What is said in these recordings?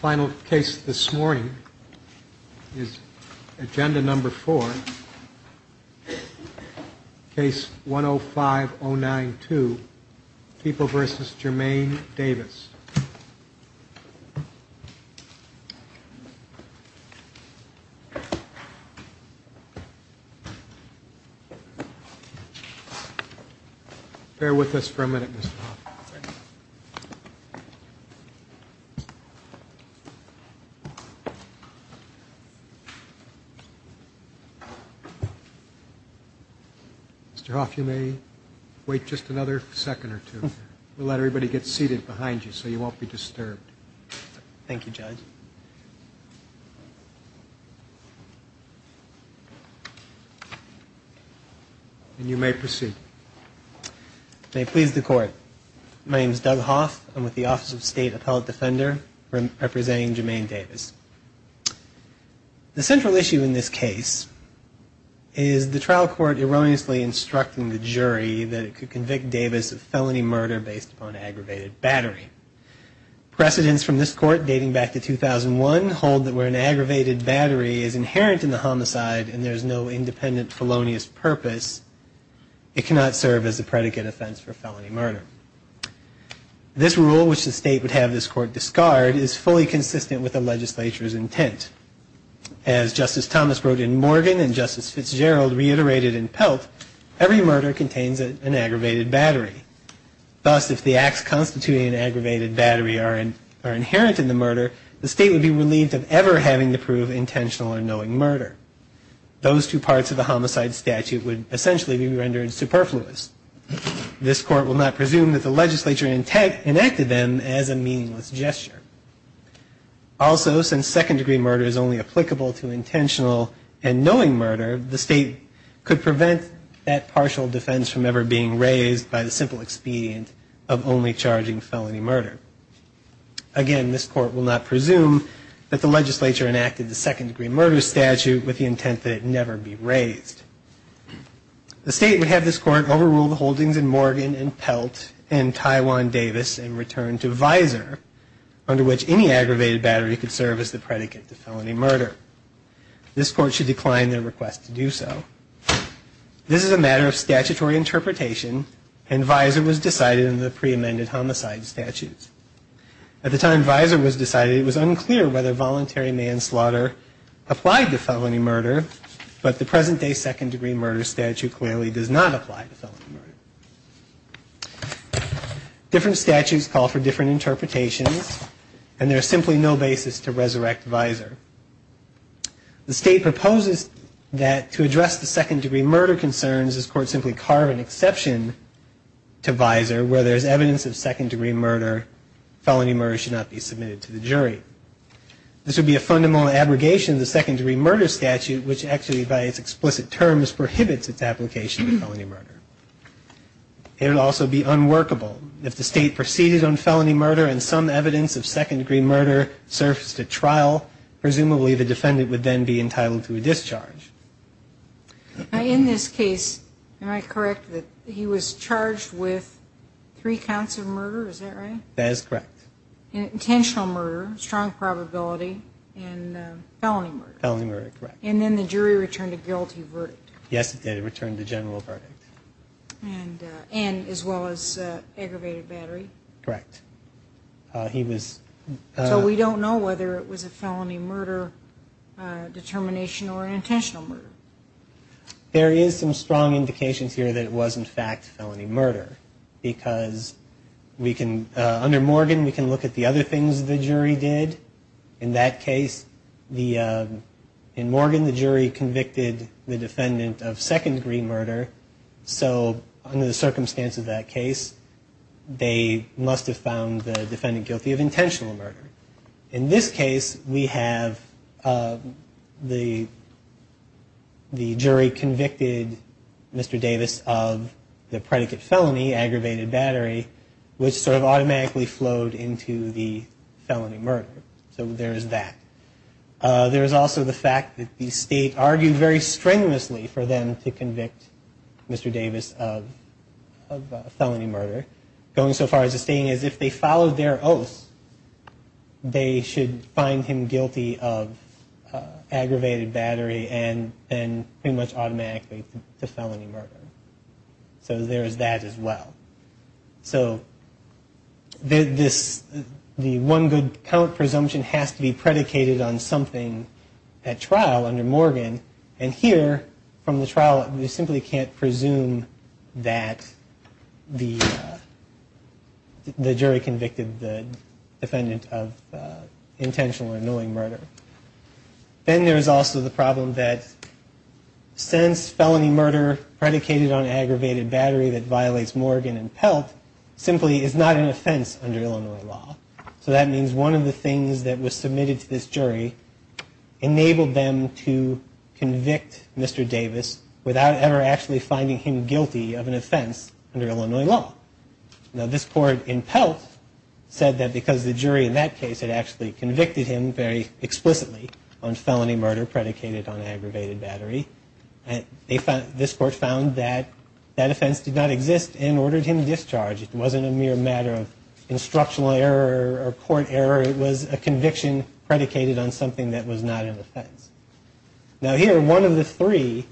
Final case this morning is Agenda Number 4, Case 105-092, People v. Jermaine Davis. Mr. Hoff, you may wait just another second or two. We'll let everybody get seated behind you so you won't be disturbed. Thank you, Judge. And you may proceed. May it please the Court, my name is Doug Hoff. I'm with the Office of State Appellate Defender representing Jermaine Davis. The central issue in this case is the trial court erroneously instructing the jury that it could convict Davis of felony murder based upon aggravated battery. Precedents from this court dating back to 2001 hold that where an aggravated battery is inherent in the homicide and there is no independent felonious purpose, it cannot serve as a predicate offense for felony murder. This rule, which the state would have this court discard, is fully consistent with the legislature's intent. As Justice Thomas wrote in Morgan and Justice Fitzgerald reiterated in Pelt, every murder contains an aggravated battery. Thus, if the acts constituting an aggravated battery are inherent in the murder, the state would be relieved of ever having to prove intentional or knowing murder. Those two parts of the homicide statute would essentially be rendered superfluous. This court will not presume that the legislature enacted them as a meaningless gesture. Also, since second-degree murder is only applicable to intentional and knowing murder, the state could prevent that partial defense from ever being raised by the simple expedient of only charging felony murder. Again, this court will not presume that the legislature enacted the second-degree murder statute with the intent that it never be raised. The state would have this court overrule the holdings in Morgan and Pelt and Taiwan Davis and return to visor, under which any aggravated battery could serve as the predicate to felony murder. This court should decline their request to do so. This is a matter of statutory interpretation and visor was decided in the pre-amended homicide statutes. At the time visor was decided, it was unclear whether voluntary manslaughter applied to felony murder, but the present-day second-degree murder statute clearly does not apply to felony murder. Different statutes call for different interpretations and there is simply no basis to resurrect visor. The state proposes that to address the second-degree murder concerns, this court simply carve an exception to visor where there is evidence of second-degree murder, This would be a fundamental abrogation of the second-degree murder statute, which actually by its explicit terms prohibits its application to felony murder. It would also be unworkable. If the state proceeded on felony murder and some evidence of second-degree murder surfaced at trial, presumably the defendant would then be entitled to a discharge. In this case, am I correct that he was charged with three counts of murder, is that right? That is correct. Intentional murder, strong probability, and felony murder. Felony murder, correct. And then the jury returned a guilty verdict. Yes, it did, it returned a general verdict. And as well as aggravated battery. Correct. So we don't know whether it was a felony murder determination or an intentional murder. There is some strong indications here that it was in fact felony murder, because under Morgan we can look at the other things the jury did. In that case, in Morgan the jury convicted the defendant of second-degree murder. So under the circumstance of that case, they must have found the defendant guilty of intentional murder. In this case, we have the jury convicted Mr. Davis of the predicate felony, aggravated battery, which sort of automatically flowed into the felony murder. So there is that. There is also the fact that the state argued very strenuously for them to convict Mr. Davis of felony murder, going so far as to stating that if they followed their oath, they should find him guilty of aggravated battery and then pretty much automatically to felony murder. So there is that as well. So the one good count presumption has to be predicated on something at trial under Morgan. And here, from the trial, we simply can't presume that the jury convicted the defendant of intentional or annoying murder. Then there is also the problem that since felony murder predicated on aggravated battery that violates Morgan and Pelt, simply is not an offense under Illinois law. So that means one of the things that was submitted to this jury enabled them to convict Mr. Davis without ever actually finding him guilty of an offense under Illinois law. Now this court in Pelt said that because the jury in that case had actually convicted him very explicitly on felony murder predicated on aggravated battery, this court found that that offense did not exist and ordered him discharged. It wasn't a mere matter of instructional error or court error. It was a conviction predicated on something that was not an offense. Now here, one of the three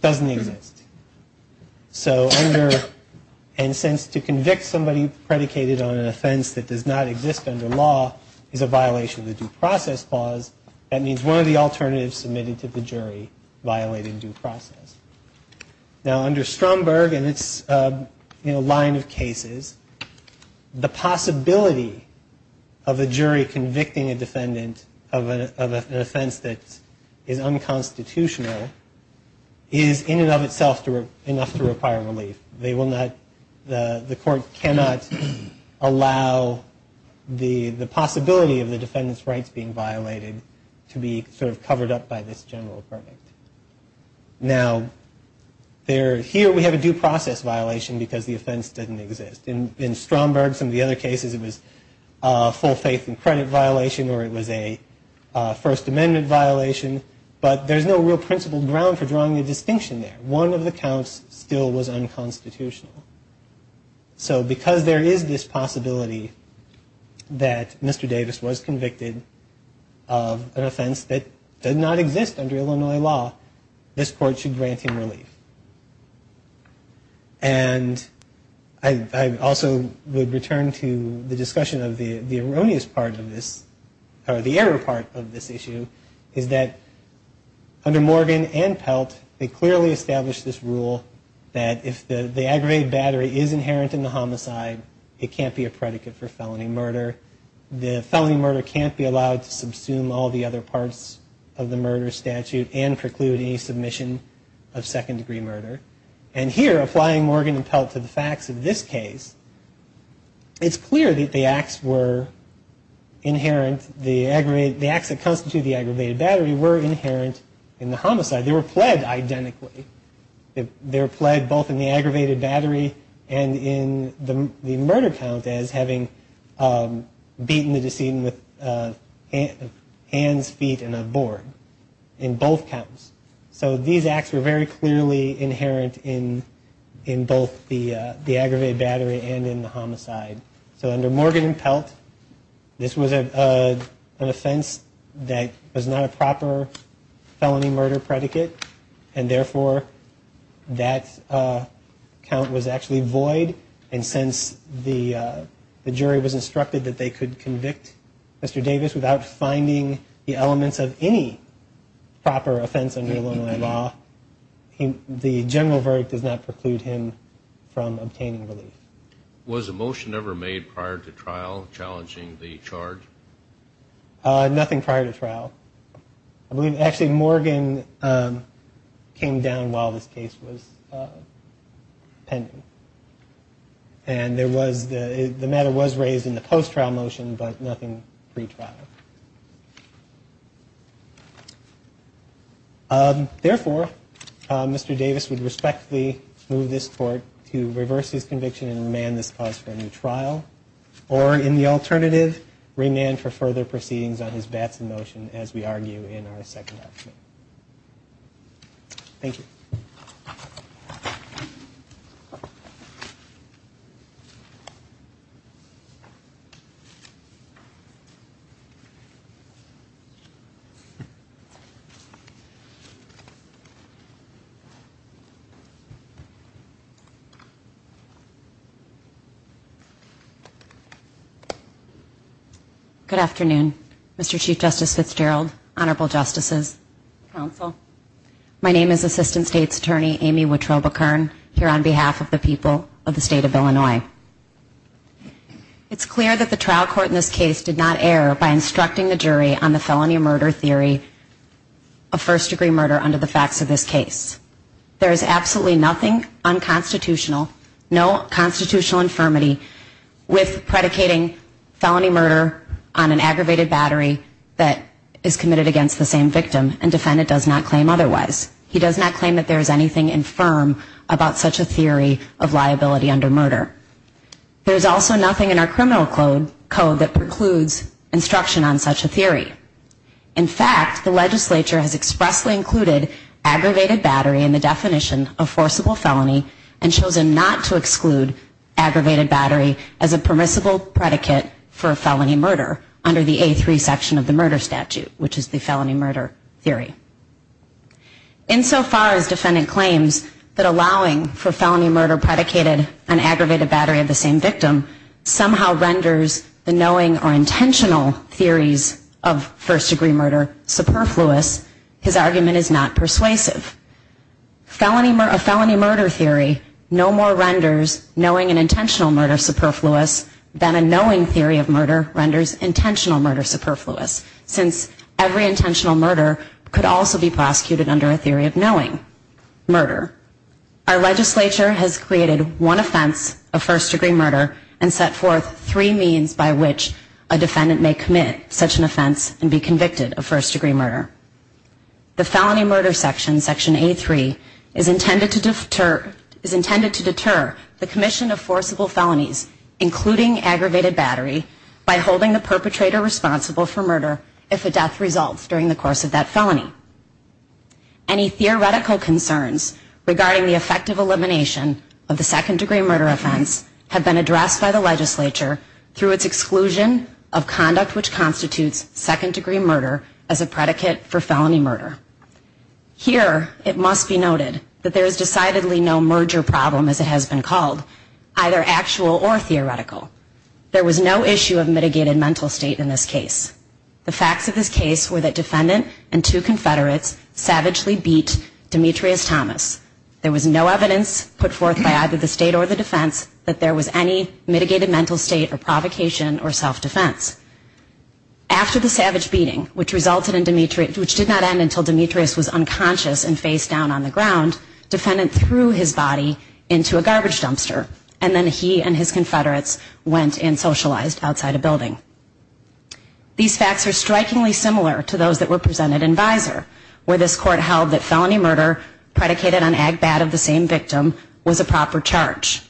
doesn't exist. So under, and since to convict somebody predicated on an offense that does not exist under law is a violation of the due process clause, that means one of the alternatives submitted to the jury violating due process. Now under Stromberg and its line of cases, the possibility of a jury convicting a defendant of an offense that is unconstitutional is in and of itself enough to require relief. The court cannot allow the possibility of the defendant's rights being violated to be sort of covered up by this general verdict. Now here we have a due process violation because the offense didn't exist. In Stromberg, some of the other cases it was a full faith and credit violation or it was a First Amendment violation, but there's no real principled ground for drawing a distinction there. One of the counts still was unconstitutional. So because there is this possibility that Mr. Davis was convicted of an offense that did not exist under Illinois law, this court should grant him relief. And I also would return to the discussion of the erroneous part of this, or the error part of this issue, is that under Morgan and Pelt, they clearly established this rule that if the aggravated battery is inherent in the homicide, it can't be a predicate for felony murder. The felony murder can't be allowed to subsume all the other parts of the murder statute and preclude any submission of second degree murder. And here, applying Morgan and Pelt to the facts of this case, it's clear that the acts were inherent, the acts that constitute the aggravated battery were inherent in the homicide. They were pled identically. They were pled both in the aggravated battery and in the murder count as having beaten the decedent with hands, feet, and a board. In both counts. So these acts were very clearly inherent in both the aggravated battery and in the homicide. So under Morgan and Pelt, this was an offense that was not a proper felony murder predicate, and therefore that count was actually void. And since the jury was instructed that they could convict Mr. Davis without finding the elements of any proper offense under Illinois law, the general verdict does not preclude him from obtaining relief. Was a motion ever made prior to trial challenging the charge? Nothing prior to trial. Actually, Morgan came down while this case was pending. And the matter was raised in the post-trial motion, but nothing pre-trial. Therefore, Mr. Davis would respectfully move this court to reverse his conviction and remand this cause for a new trial, or in the alternative, remand for further proceedings on his Batson motion as we argue in our second argument. Thank you. Ms. Fitzgerald. Good afternoon, Mr. Chief Justice Fitzgerald, Honorable Justices, Counsel. My name is Assistant State's Attorney Amy Wittrobekern, here on behalf of the people of the State of Illinois. It's clear that the trial court in this case did not err by instructing the jury on the felony murder theory of first-degree murder under the facts of this case. There is absolutely nothing unconstitutional, no constitutional infirmity with predicating felony murder on an aggravated battery that is committed against the same victim and defendant does not claim otherwise. He does not claim that there is anything infirm about such a theory of liability under murder. There is also nothing in our criminal code that precludes instruction on such a theory. In fact, the legislature has expressly included aggravated battery in the definition of forcible felony and chosen not to exclude aggravated battery as a permissible predicate for a felony murder under the A3 section of the murder statute, which is the felony murder theory. Insofar as defendant claims that allowing for felony murder predicated on aggravated battery of the same victim somehow renders the knowing or intentional theories of first-degree murder superfluous, his argument is not persuasive. A felony murder theory no more renders knowing and intentional murder superfluous than a knowing theory of murder renders intentional murder superfluous, since every intentional murder could also be prosecuted under a theory of knowing murder. Our legislature has created one offense of first-degree murder and set forth three means by which a defendant may commit such an offense and be convicted of first-degree murder. The felony murder section, section A3, is intended to deter the commission of forcible felonies, including aggravated battery, by holding the perpetrator responsible for murder if a death results during the course of that felony. Any theoretical concerns regarding the effective elimination of the second-degree murder offense have been addressed by the legislature through its exclusion of conduct which constitutes second-degree murder as a predicate for felony murder. Here, it must be noted that there is decidedly no merger problem, as it has been called, either actual or theoretical. There was no issue of mitigated mental state in this case. The facts of this case were that defendant and two Confederates savagely beat Demetrius Thomas. There was no evidence put forth by either the state or the defense that there was any mitigated mental state or provocation or self-defense. After the savage beating, which resulted in Demetrius, which did not end until Demetrius was unconscious and face down on the ground, defendant threw his body into a garbage dumpster and then he and his Confederates went and socialized outside a building. These facts are strikingly similar to those that were presented in visor, where this court held that felony murder predicated on agbat of the same victim was a proper charge.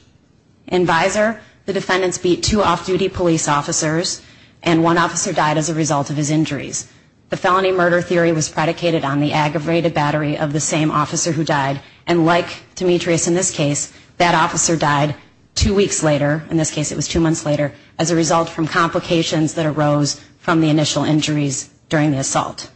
In visor, the defendants beat two off-duty police officers and one officer died as a result of his injuries. The felony murder theory was predicated on the aggravated battery of the same officer who died and like Demetrius in this case, that officer died two weeks later, in this case it was two months later, as a result from complications that arose from the initial injuries during the assault.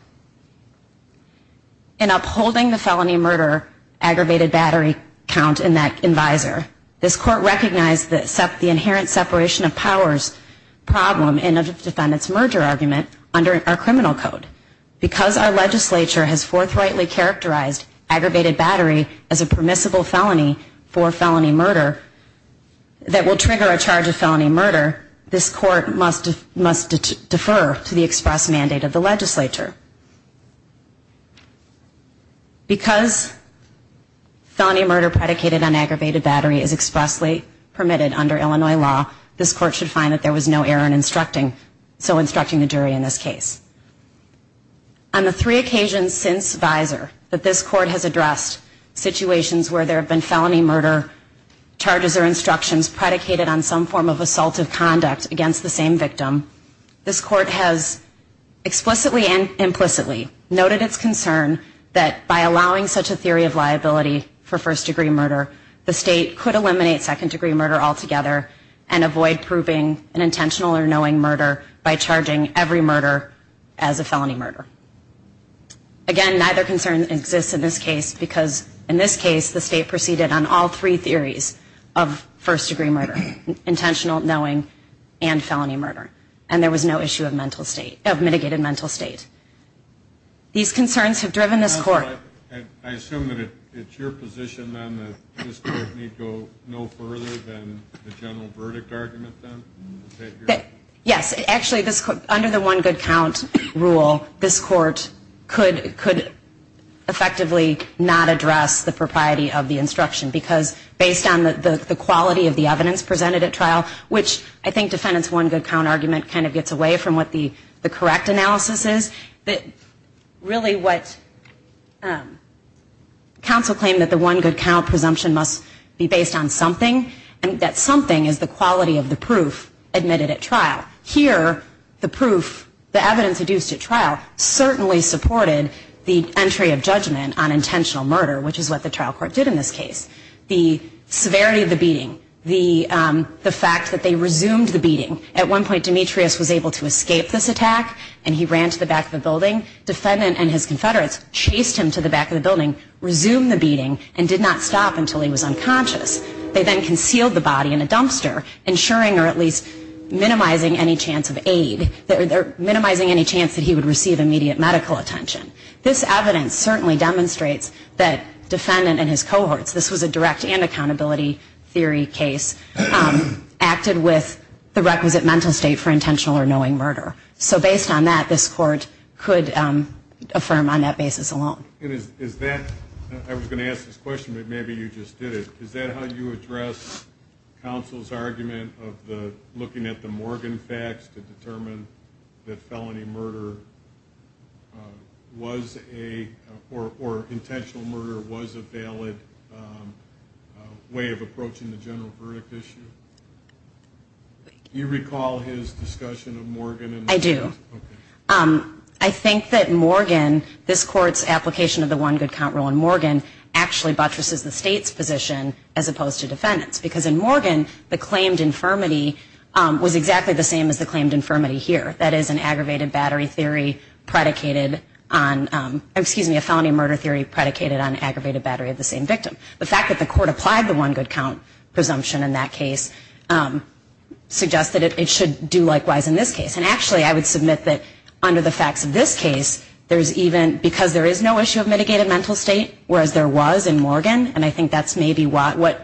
In upholding the felony murder aggravated battery count in that visor, this court recognized the inherent separation of powers problem in a defendant's merger argument under our criminal code. Because our legislature has forthrightly characterized aggravated battery as a permissible felony for felony murder that will trigger a charge of felony murder, this court must defer to the express mandate of the legislature. Because felony murder predicated on aggravated battery is expressly permitted under Illinois law, this court should find that there was no error in instructing, so instructing the jury in this case. On the three occasions since visor that this court has addressed situations where there have been felony murder charges or instructions predicated on some form of assaultive conduct against the same victim, this court has explicitly and implicitly noted its concern that by allowing such a theory of liability for first degree murder, the state could eliminate second degree murder altogether and avoid proving an intentional or knowing murder by charging every murder as a felony murder. Again, neither concern exists in this case because in this case, the state proceeded on all three theories of first degree murder, intentional, knowing, and felony murder. And there was no issue of mitigated mental state. These concerns have driven this court. I assume that it's your position then that this court need go no further than the general verdict argument then? Yes. Actually, under the one good count rule, this court could effectively not address the propriety of the instruction because based on the quality of the evidence presented at trial, which I think defendant's one good count argument kind of gets away from what the correct analysis is, that really what counsel claimed that the one good count presumption must be based on something and that something is the quality of the proof admitted at trial. Here, the proof, the evidence produced at trial, certainly supported the entry of judgment on intentional murder, which is what the trial court did in this case. The severity of the beating, the fact that they resumed the beating. At one point, Demetrius was able to escape this attack and he ran to the back of the building. Defendant and his confederates chased him to the back of the building, resumed the beating, and did not stop until he was unconscious. They then concealed the body in a dumpster, ensuring or at least minimizing any chance of aid, minimizing any chance that he would receive immediate medical attention. This evidence certainly demonstrates that defendant and his cohorts, this was a direct and accountability theory case, acted with the requisite mental state for intentional or knowing murder. So based on that, this court could affirm on that basis alone. I was going to ask this question, but maybe you just did it. Is that how you address counsel's argument of looking at the Morgan facts to determine that felony murder or intentional murder was a valid way of approaching the general verdict issue? Do you recall his discussion of Morgan? I do. I think that Morgan, this court's application of the one good count rule in Morgan, actually buttresses the state's position as opposed to defendants. Because in Morgan, the claimed infirmity was exactly the same as the claimed infirmity here. That is an aggravated battery theory predicated on, excuse me, a felony murder theory predicated on aggravated battery of the same victim. The fact that the court applied the one good count presumption in that case suggests that it should do likewise in this case. And actually, I would submit that under the facts of this case, there's even, because there is no issue of mitigated mental state, whereas there was in Morgan, and I think that's maybe what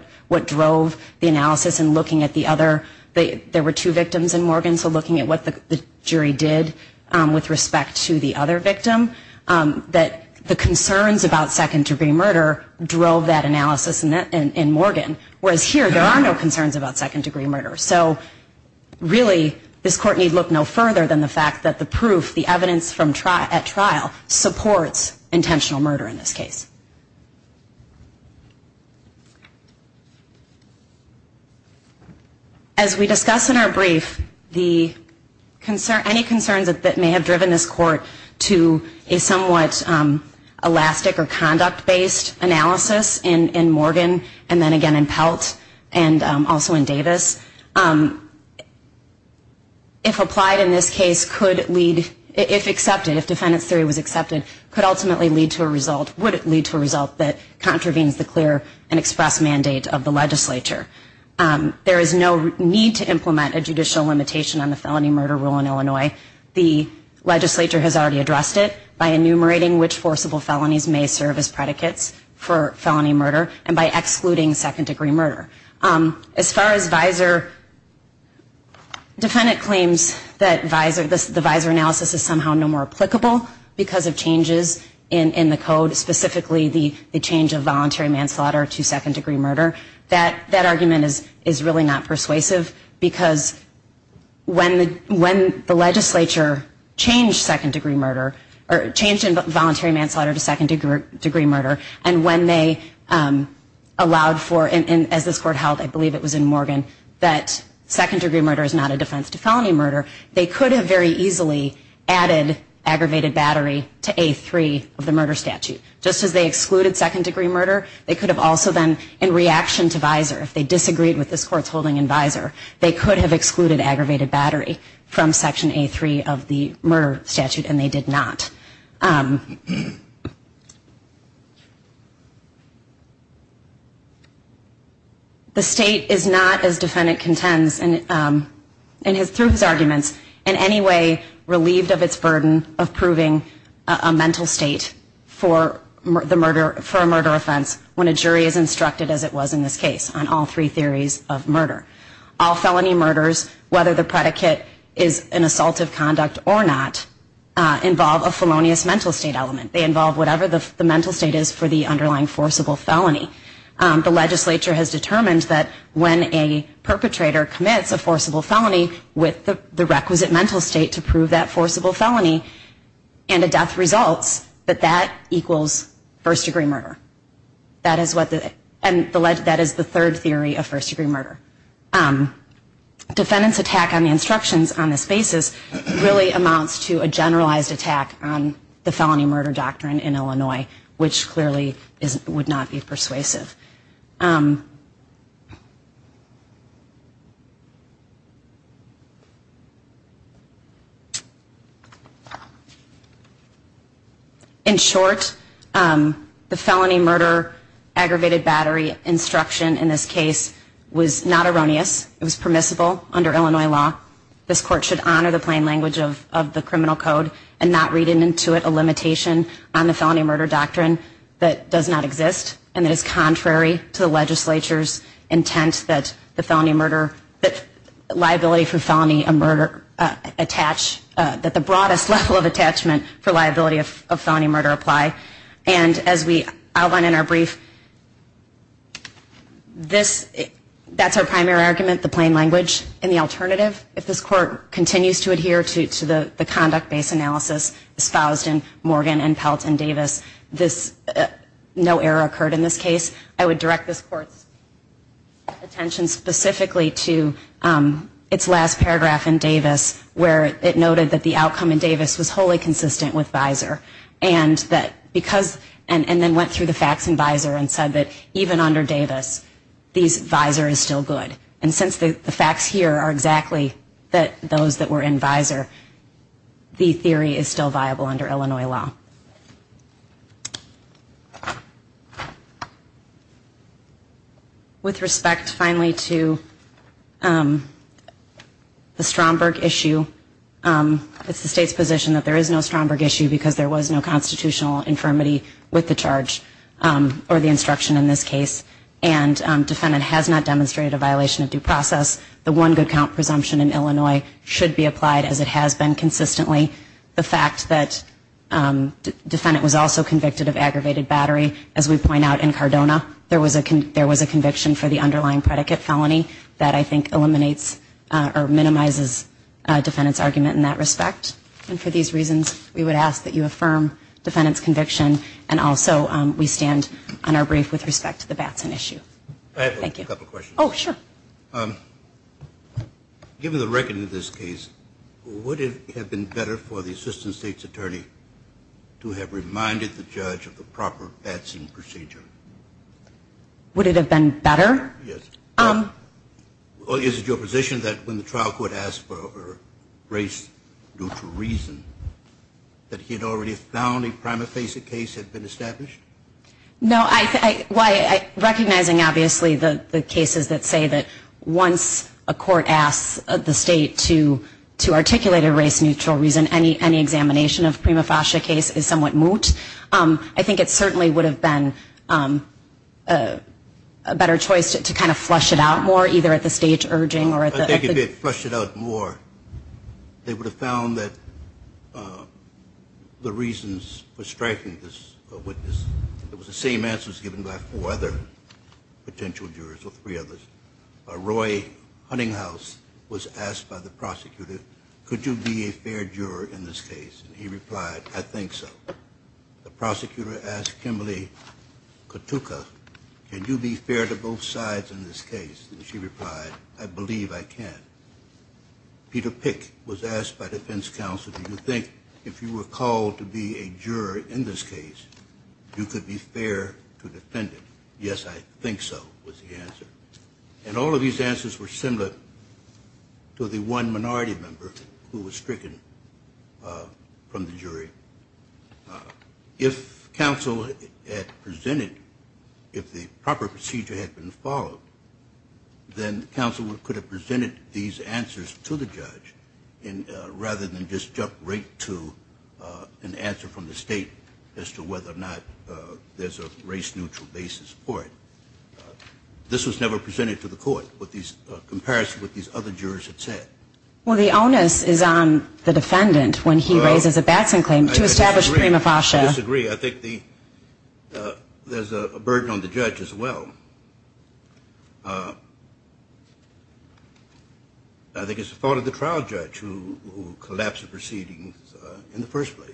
drove the analysis in looking at the other, there were two victims in Morgan, so looking at what the jury did with respect to the other victim, that the concerns about second-degree murder drove that analysis in Morgan. Whereas here, there are no concerns about second-degree murder. So really, this court need look no further than the fact that the proof, the evidence at trial, supports intentional murder in this case. As we discuss in our brief, any concerns that may have driven this court to a somewhat elastic or conduct-based analysis in Morgan, and then again in Pelt, and also in Davis, if applied in this case, could lead, if accepted, if defendant's theory was accepted, could ultimately lead to a result, would lead to a result, that contravenes the clear and express mandate of the legislature. There is no need to implement a judicial limitation on the felony murder rule in Illinois. The legislature has already addressed it by enumerating which forcible felonies may serve as predicates for felony murder, and by excluding second-degree murder. As far as visor, defendant claims that the visor analysis is somehow no more applicable because of changes in the code, specifically the change of voluntary manslaughter to second-degree murder. That argument is really not persuasive, because when the legislature changed in voluntary manslaughter to second-degree murder, and when they allowed for, as this court held, I believe it was in Morgan, that second-degree murder is not a defense to felony murder, they could have very easily added aggravated battery to A3 of the murder statute. Just as they excluded second-degree murder, they could have also then, in reaction to visor, if they disagreed with this court's holding in visor, they could have excluded aggravated battery from Section A3 of the murder statute, and they did not. The state is not, as defendant contends, through his arguments, in any way relieved of its burden of proving a mental state for a murder offense when a jury is instructed, as it was in this case, on all three theories of murder. All felony murders, whether the predicate is an assault of conduct or not, involve a felonious mental state element. They involve whatever the mental state is for the underlying forcible felony. The legislature has determined that when a perpetrator commits a forcible felony with the requisite mental state to prove that forcible felony and a death results, that that equals first-degree murder. That is the third theory of first-degree murder. Defendant's attack on the instructions on this basis really amounts to a generalized attack on the felony murder doctrine in Illinois, which clearly would not be persuasive. In short, the felony murder aggravated battery instruction in this case was not erroneous. It was permissible under Illinois law. This court should honor the plain language of the criminal code and not read into it a limitation on the felony murder doctrine that does not exist and that is contrary to the legislature's intent that liability for felony murder at the broadest level of attachment for liability of felony murder apply. And as we outline in our brief, that's our primary argument, the plain language. In the alternative, if this court continues to adhere to the conduct-based analysis espoused in Morgan and Pelt and Davis, no error occurred in this case. I would direct this court's attention specifically to its last paragraph in Davis where it noted that the outcome in Davis was wholly consistent with Visor and then went through the facts in Visor and said that even under Davis, Visor is still good. And since the facts here are exactly those that were in Visor, the theory is still viable under Illinois law. With respect, finally, to the Stromberg issue, it's the state's position that there is no Stromberg issue because there was no constitutional infirmity with the charge or the instruction in this case and defendant has not demonstrated a violation of due process. The one good count presumption in Illinois should be applied as it has been consistently. The fact that defendant was also convicted of aggravated battery, as we point out in Cardona, there was a conviction for the underlying predicate felony that I think eliminates or minimizes defendant's argument in that respect. And for these reasons, we would ask that you affirm defendant's conviction and also we stand on our brief with respect to the Batson issue. Thank you. I have a couple of questions. Oh, sure. Given the record in this case, would it have been better for the assistant state's attorney to have reminded the judge of the proper Batson procedure? Would it have been better? Yes. Or is it your position that when the trial court asked for race due to reason, that he had already found a prima facie case had been established? No. Recognizing, obviously, the cases that say that once a court asks the state to articulate a race neutral reason, any examination of prima facie case is somewhat moot. I think it certainly would have been a better choice to kind of flush it out more, either at the stage urging or at the... I think if they had flushed it out more, they would have found that the reasons for striking this witness, it was the same answers given by four other potential jurors or three others. Roy Huntinghouse was asked by the prosecutor, could you be a fair juror in this case? And he replied, I think so. The prosecutor asked Kimberly Katuka, can you be fair to both sides in this case? And she replied, I believe I can. Peter Pick was asked by defense counsel, do you think if you were called to be a juror in this case, you could be fair to the defendant? Yes, I think so was the answer. And all of these answers were similar to the one minority member who was stricken from the jury. If counsel had presented, if the proper procedure had been followed, then counsel could have presented these answers to the judge rather than just jump right to an answer from the state as to whether or not there's a race-neutral basis for it. This was never presented to the court in comparison with what these other jurors had said. Well, the onus is on the defendant when he raises a Batson claim to establish prima facie. I disagree. I think there's a burden on the judge as well. I think it's the fault of the trial judge who collapsed the proceedings in the first place.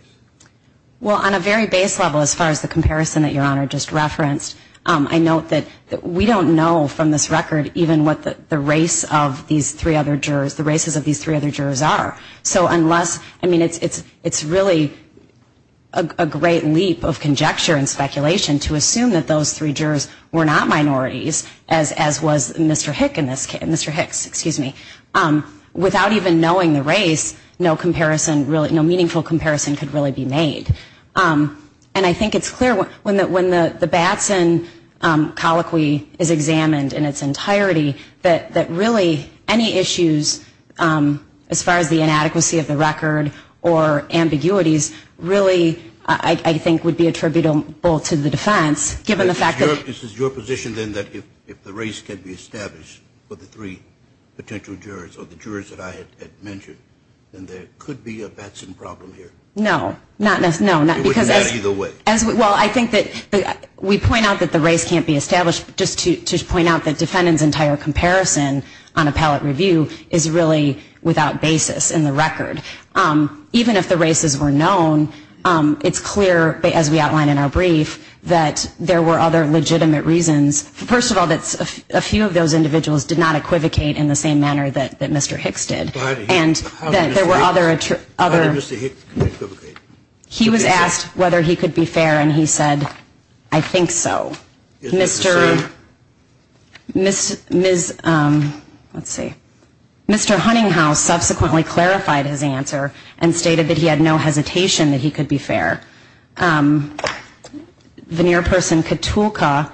Well, on a very base level, as far as the comparison that Your Honor just referenced, I note that we don't know from this record even what the race of these three other jurors, the races of these three other jurors are. So unless, I mean, it's really a great leap of conjecture and speculation to assume that those three jurors were not minorities, as was Mr. Hicks. Without even knowing the race, no comparison, no meaningful comparison could really be made. And I think it's clear when the Batson colloquy is examined in its entirety, that really any issues as far as the inadequacy of the record or ambiguities really I think would be attributable to the defense, given the fact that... If this is your position then that if the race can be established for the three potential jurors or the jurors that I had mentioned, then there could be a Batson problem here. No, not necessarily. It wouldn't matter either way. Well, I think that we point out that the race can't be established. Just to point out that defendant's entire comparison on appellate review is really without basis in the record. Even if the races were known, it's clear as we outline in our brief that there were other legitimate reasons. First of all, that a few of those individuals did not equivocate in the same manner that Mr. Hicks did. And that there were other... How did Mr. Hicks not equivocate? He was asked whether he could be fair and he said, I think so. Mr.... Ms.... Let's see. Mr. Huntinghouse subsequently clarified his answer and stated that he had no hesitation that he could be fair. Veneer person Katulka,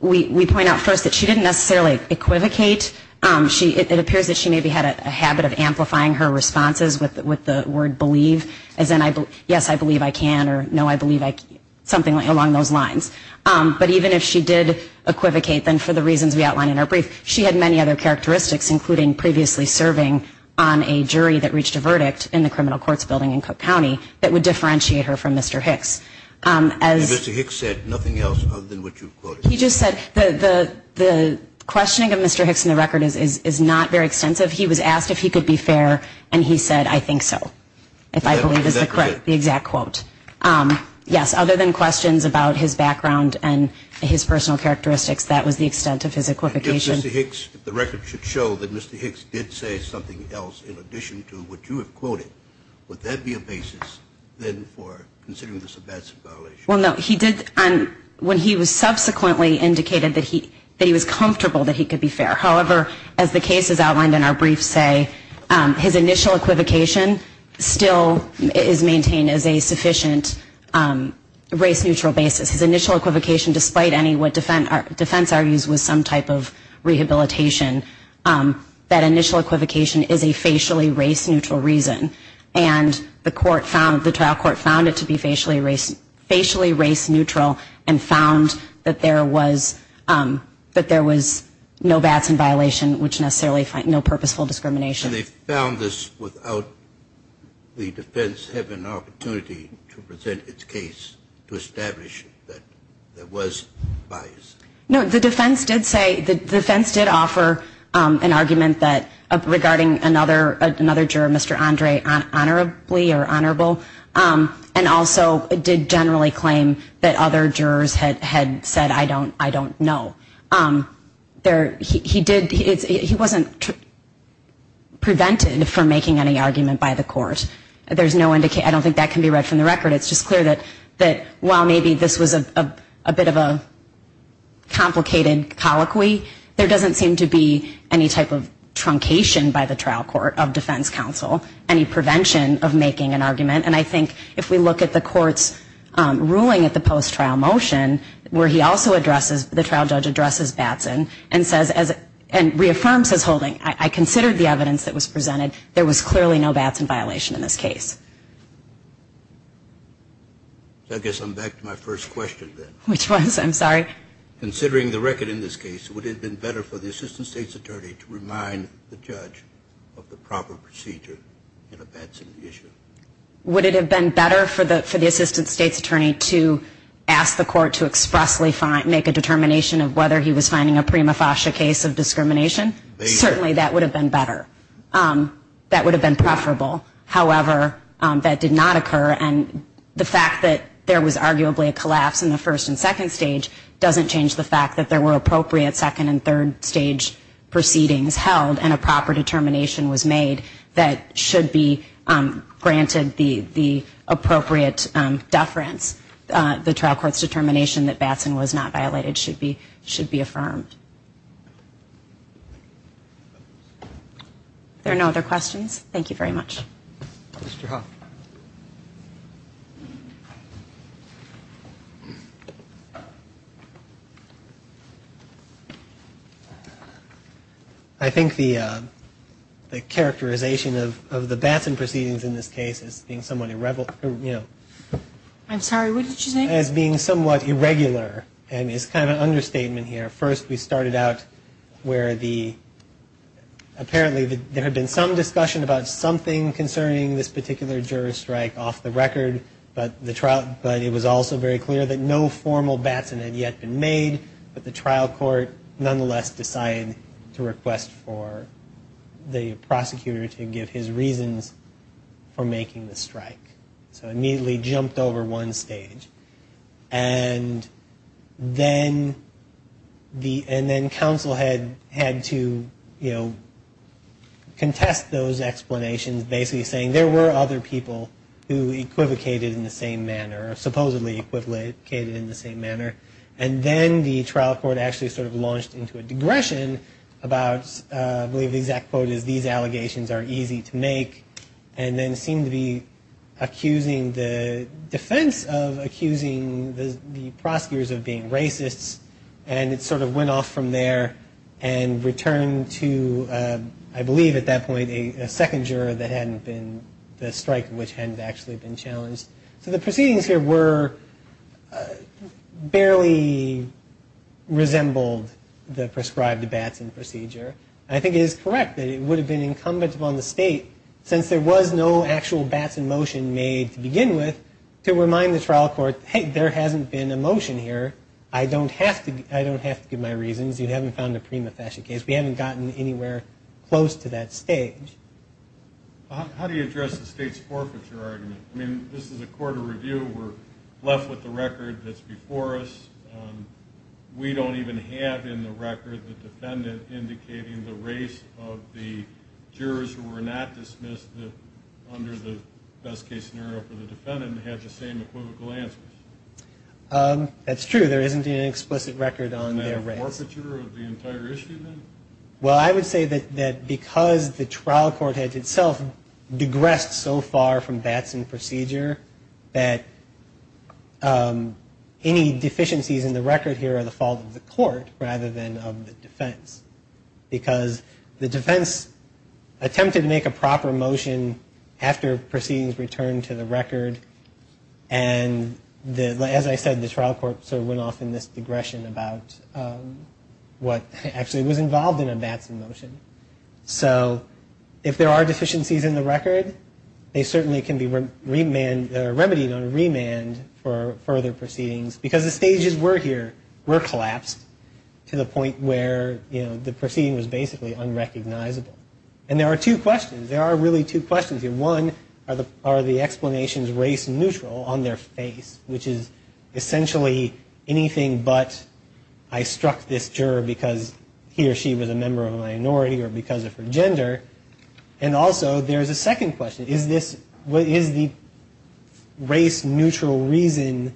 we point out first that she didn't necessarily equivocate. It appears that she maybe had a habit of amplifying her responses with the word believe, as in, yes, I believe I can, or no, I believe I can, something along those lines. But even if she did equivocate, then for the reasons we outline in our brief, she had many other characteristics, including previously serving on a jury that reached a verdict in the criminal courts building in Cook County that would differentiate her from Mr. Hicks. Mr. Hicks said nothing else other than what you've quoted. He just said the questioning of Mr. Hicks in the record is not very extensive. He was asked if he could be fair and he said, I think so, if I believe is the exact quote. Yes, other than questions about his background and his personal characteristics, that was the extent of his equivocation. If Mr. Hicks, if the record should show that Mr. Hicks did say something else in addition to what you have quoted, would that be a basis then for considering this a bad situation? Well, no. He did, when he was subsequently indicated that he was comfortable that he could be fair. However, as the case is outlined in our brief say, his initial equivocation still is maintained as a sufficient race-neutral basis. His initial equivocation, despite any what defense argues was some type of rehabilitation, that initial equivocation is a facially race-neutral reason. And the trial court found it to be facially race-neutral and found that there was no vats in violation, which necessarily no purposeful discrimination. And they found this without the defense having an opportunity to present its case to establish that there was bias? No, the defense did say, the defense did offer an argument that, regarding another juror, Mr. Andre, honorably or honorable, and also did generally claim that other jurors had said, I don't know. He did, he wasn't prevented from making any argument by the court. There's no indication, I don't think that can be read from the record. It's just clear that while maybe this was a bit of a complicated colloquy, there doesn't seem to be any type of truncation by the trial court of defense counsel, any prevention of making an argument. And I think if we look at the court's ruling at the post-trial motion, where he also addresses, the trial judge addresses Batson and says, and reaffirms his holding, I considered the evidence that was presented. There was clearly no Batson violation in this case. I guess I'm back to my first question then. Which was, I'm sorry? Considering the record in this case, would it have been better for the assistant state's attorney to remind the judge of the proper procedure in a Batson issue? Would it have been better for the assistant state's attorney to ask the court to expressly make a determination of whether he was finding a prima facie case of discrimination? Certainly that would have been better. That would have been preferable. However, that did not occur, and the fact that there was arguably a collapse in the first and second stage doesn't change the fact that there were appropriate second and third stage proceedings held and a proper determination was made that should be granted the appropriate deference. The trial court's determination that Batson was not violated should be affirmed. Are there no other questions? Thank you very much. Mr. Hoffman. I think the characterization of the Batson proceedings in this case as being somewhat irrevel- I'm sorry, what did you say? As being somewhat irregular, and it's kind of an understatement here. First we started out where apparently there had been some discussion about something concerning this particular juror's strike off the record, but it was also very clear that no formal Batson had yet been made, but the trial court nonetheless decided to request for the prosecutor to give his reasons for making the strike. So immediately jumped over one stage. And then counsel had to contest those explanations, basically saying there were other people who equivocated in the same manner, or supposedly equivocated in the same manner. And then the trial court actually sort of launched into a digression about, I believe the exact quote is, these allegations are easy to make, and then seemed to be accusing the defense of accusing the prosecutors of being racists. And it sort of went off from there and returned to, I believe at that point, a second juror that hadn't been- the strike which hadn't actually been challenged. So the proceedings here were- barely resembled the prescribed Batson procedure. I think it is correct that it would have been incumbent upon the state, since there was no actual Batson motion made to begin with, to remind the trial court, hey, there hasn't been a motion here. I don't have to give my reasons. You haven't found a prima facie case. We haven't gotten anywhere close to that stage. How do you address the state's forfeiture argument? I mean, this is a court of review. We're left with the record that's before us. We don't even have in the record the defendant indicating the race of the jurors who were not dismissed under the best case scenario for the defendant and had the same equivocal answers. That's true. There isn't an explicit record on their race. Is that a forfeiture of the entire issue, then? Well, I would say that because the trial court had itself digressed so far from Batson procedure, that any deficiencies in the record here are the fault of the court rather than of the defense. Because the defense attempted to make a proper motion after proceedings returned to the record, and as I said, the trial court sort of went off in this digression about what actually was involved in a Batson motion. So if there are deficiencies in the record, they certainly can be remedied on remand for further proceedings, because the stages we're here were collapsed to the point where the proceeding was basically unrecognizable. And there are two questions. There are really two questions here. One, are the explanations race neutral on their face, which is essentially anything but I struck this juror because he or she was a member of a minority or because of her gender? And also, there's a second question. Is the race neutral reason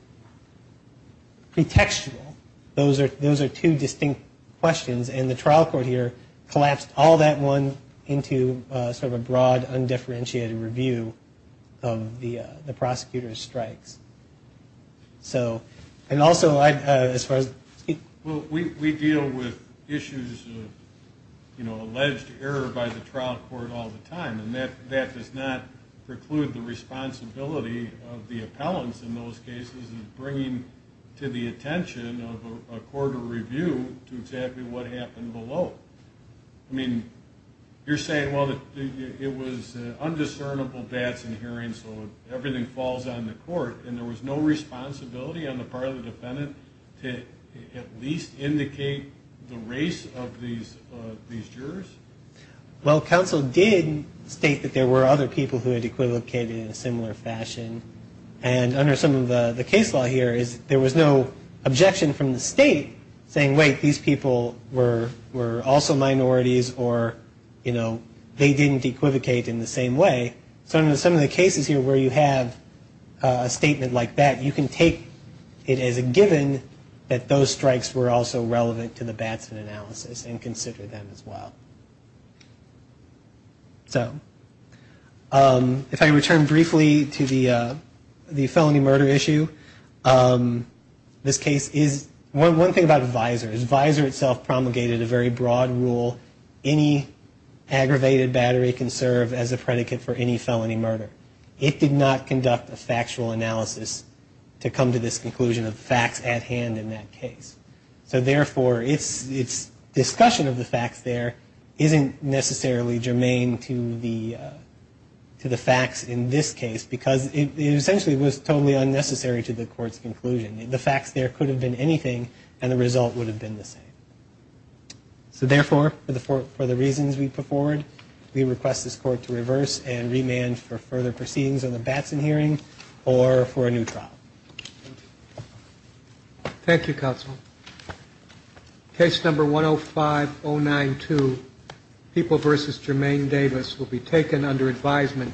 pretextual? Those are two distinct questions. And the trial court here collapsed all that one into sort of a broad, undifferentiated review of the prosecutor's strikes. So, and also, as far as... Well, we deal with issues of, you know, alleged error by the trial court all the time, and that does not preclude the responsibility of the appellants in those cases in bringing to the attention of a court of review to exactly what happened below. I mean, you're saying, well, it was undiscernible bats in hearing, so everything falls on the court, and there was no responsibility on the part of the defendant to at least indicate the race of these jurors? Well, counsel did state that there were other people who had equivocated in a similar fashion. And under some of the case law here is there was no objection from the state saying, wait, these people were also minorities or, you know, they didn't equivocate in the same way. So in some of the cases here where you have a statement like that, you can take it as a given that those strikes were also relevant to the Batson analysis and consider them as well. So if I return briefly to the felony murder issue, this case is one thing about visors. Visor itself promulgated a very broad rule. Any aggravated battery can serve as a predicate for any felony murder. It did not conduct a factual analysis to come to this conclusion of facts at hand in that case. So therefore, its discussion of the facts there isn't necessarily germane to the facts in this case because it essentially was totally unnecessary to the court's conclusion. The facts there could have been anything, and the result would have been the same. So therefore, for the reasons we put forward, we request this court to reverse and remand for further proceedings on the Batson hearing or for a new trial. Thank you, Counsel. Case number 105-092, People v. Germaine Davis, will be taken under advisement.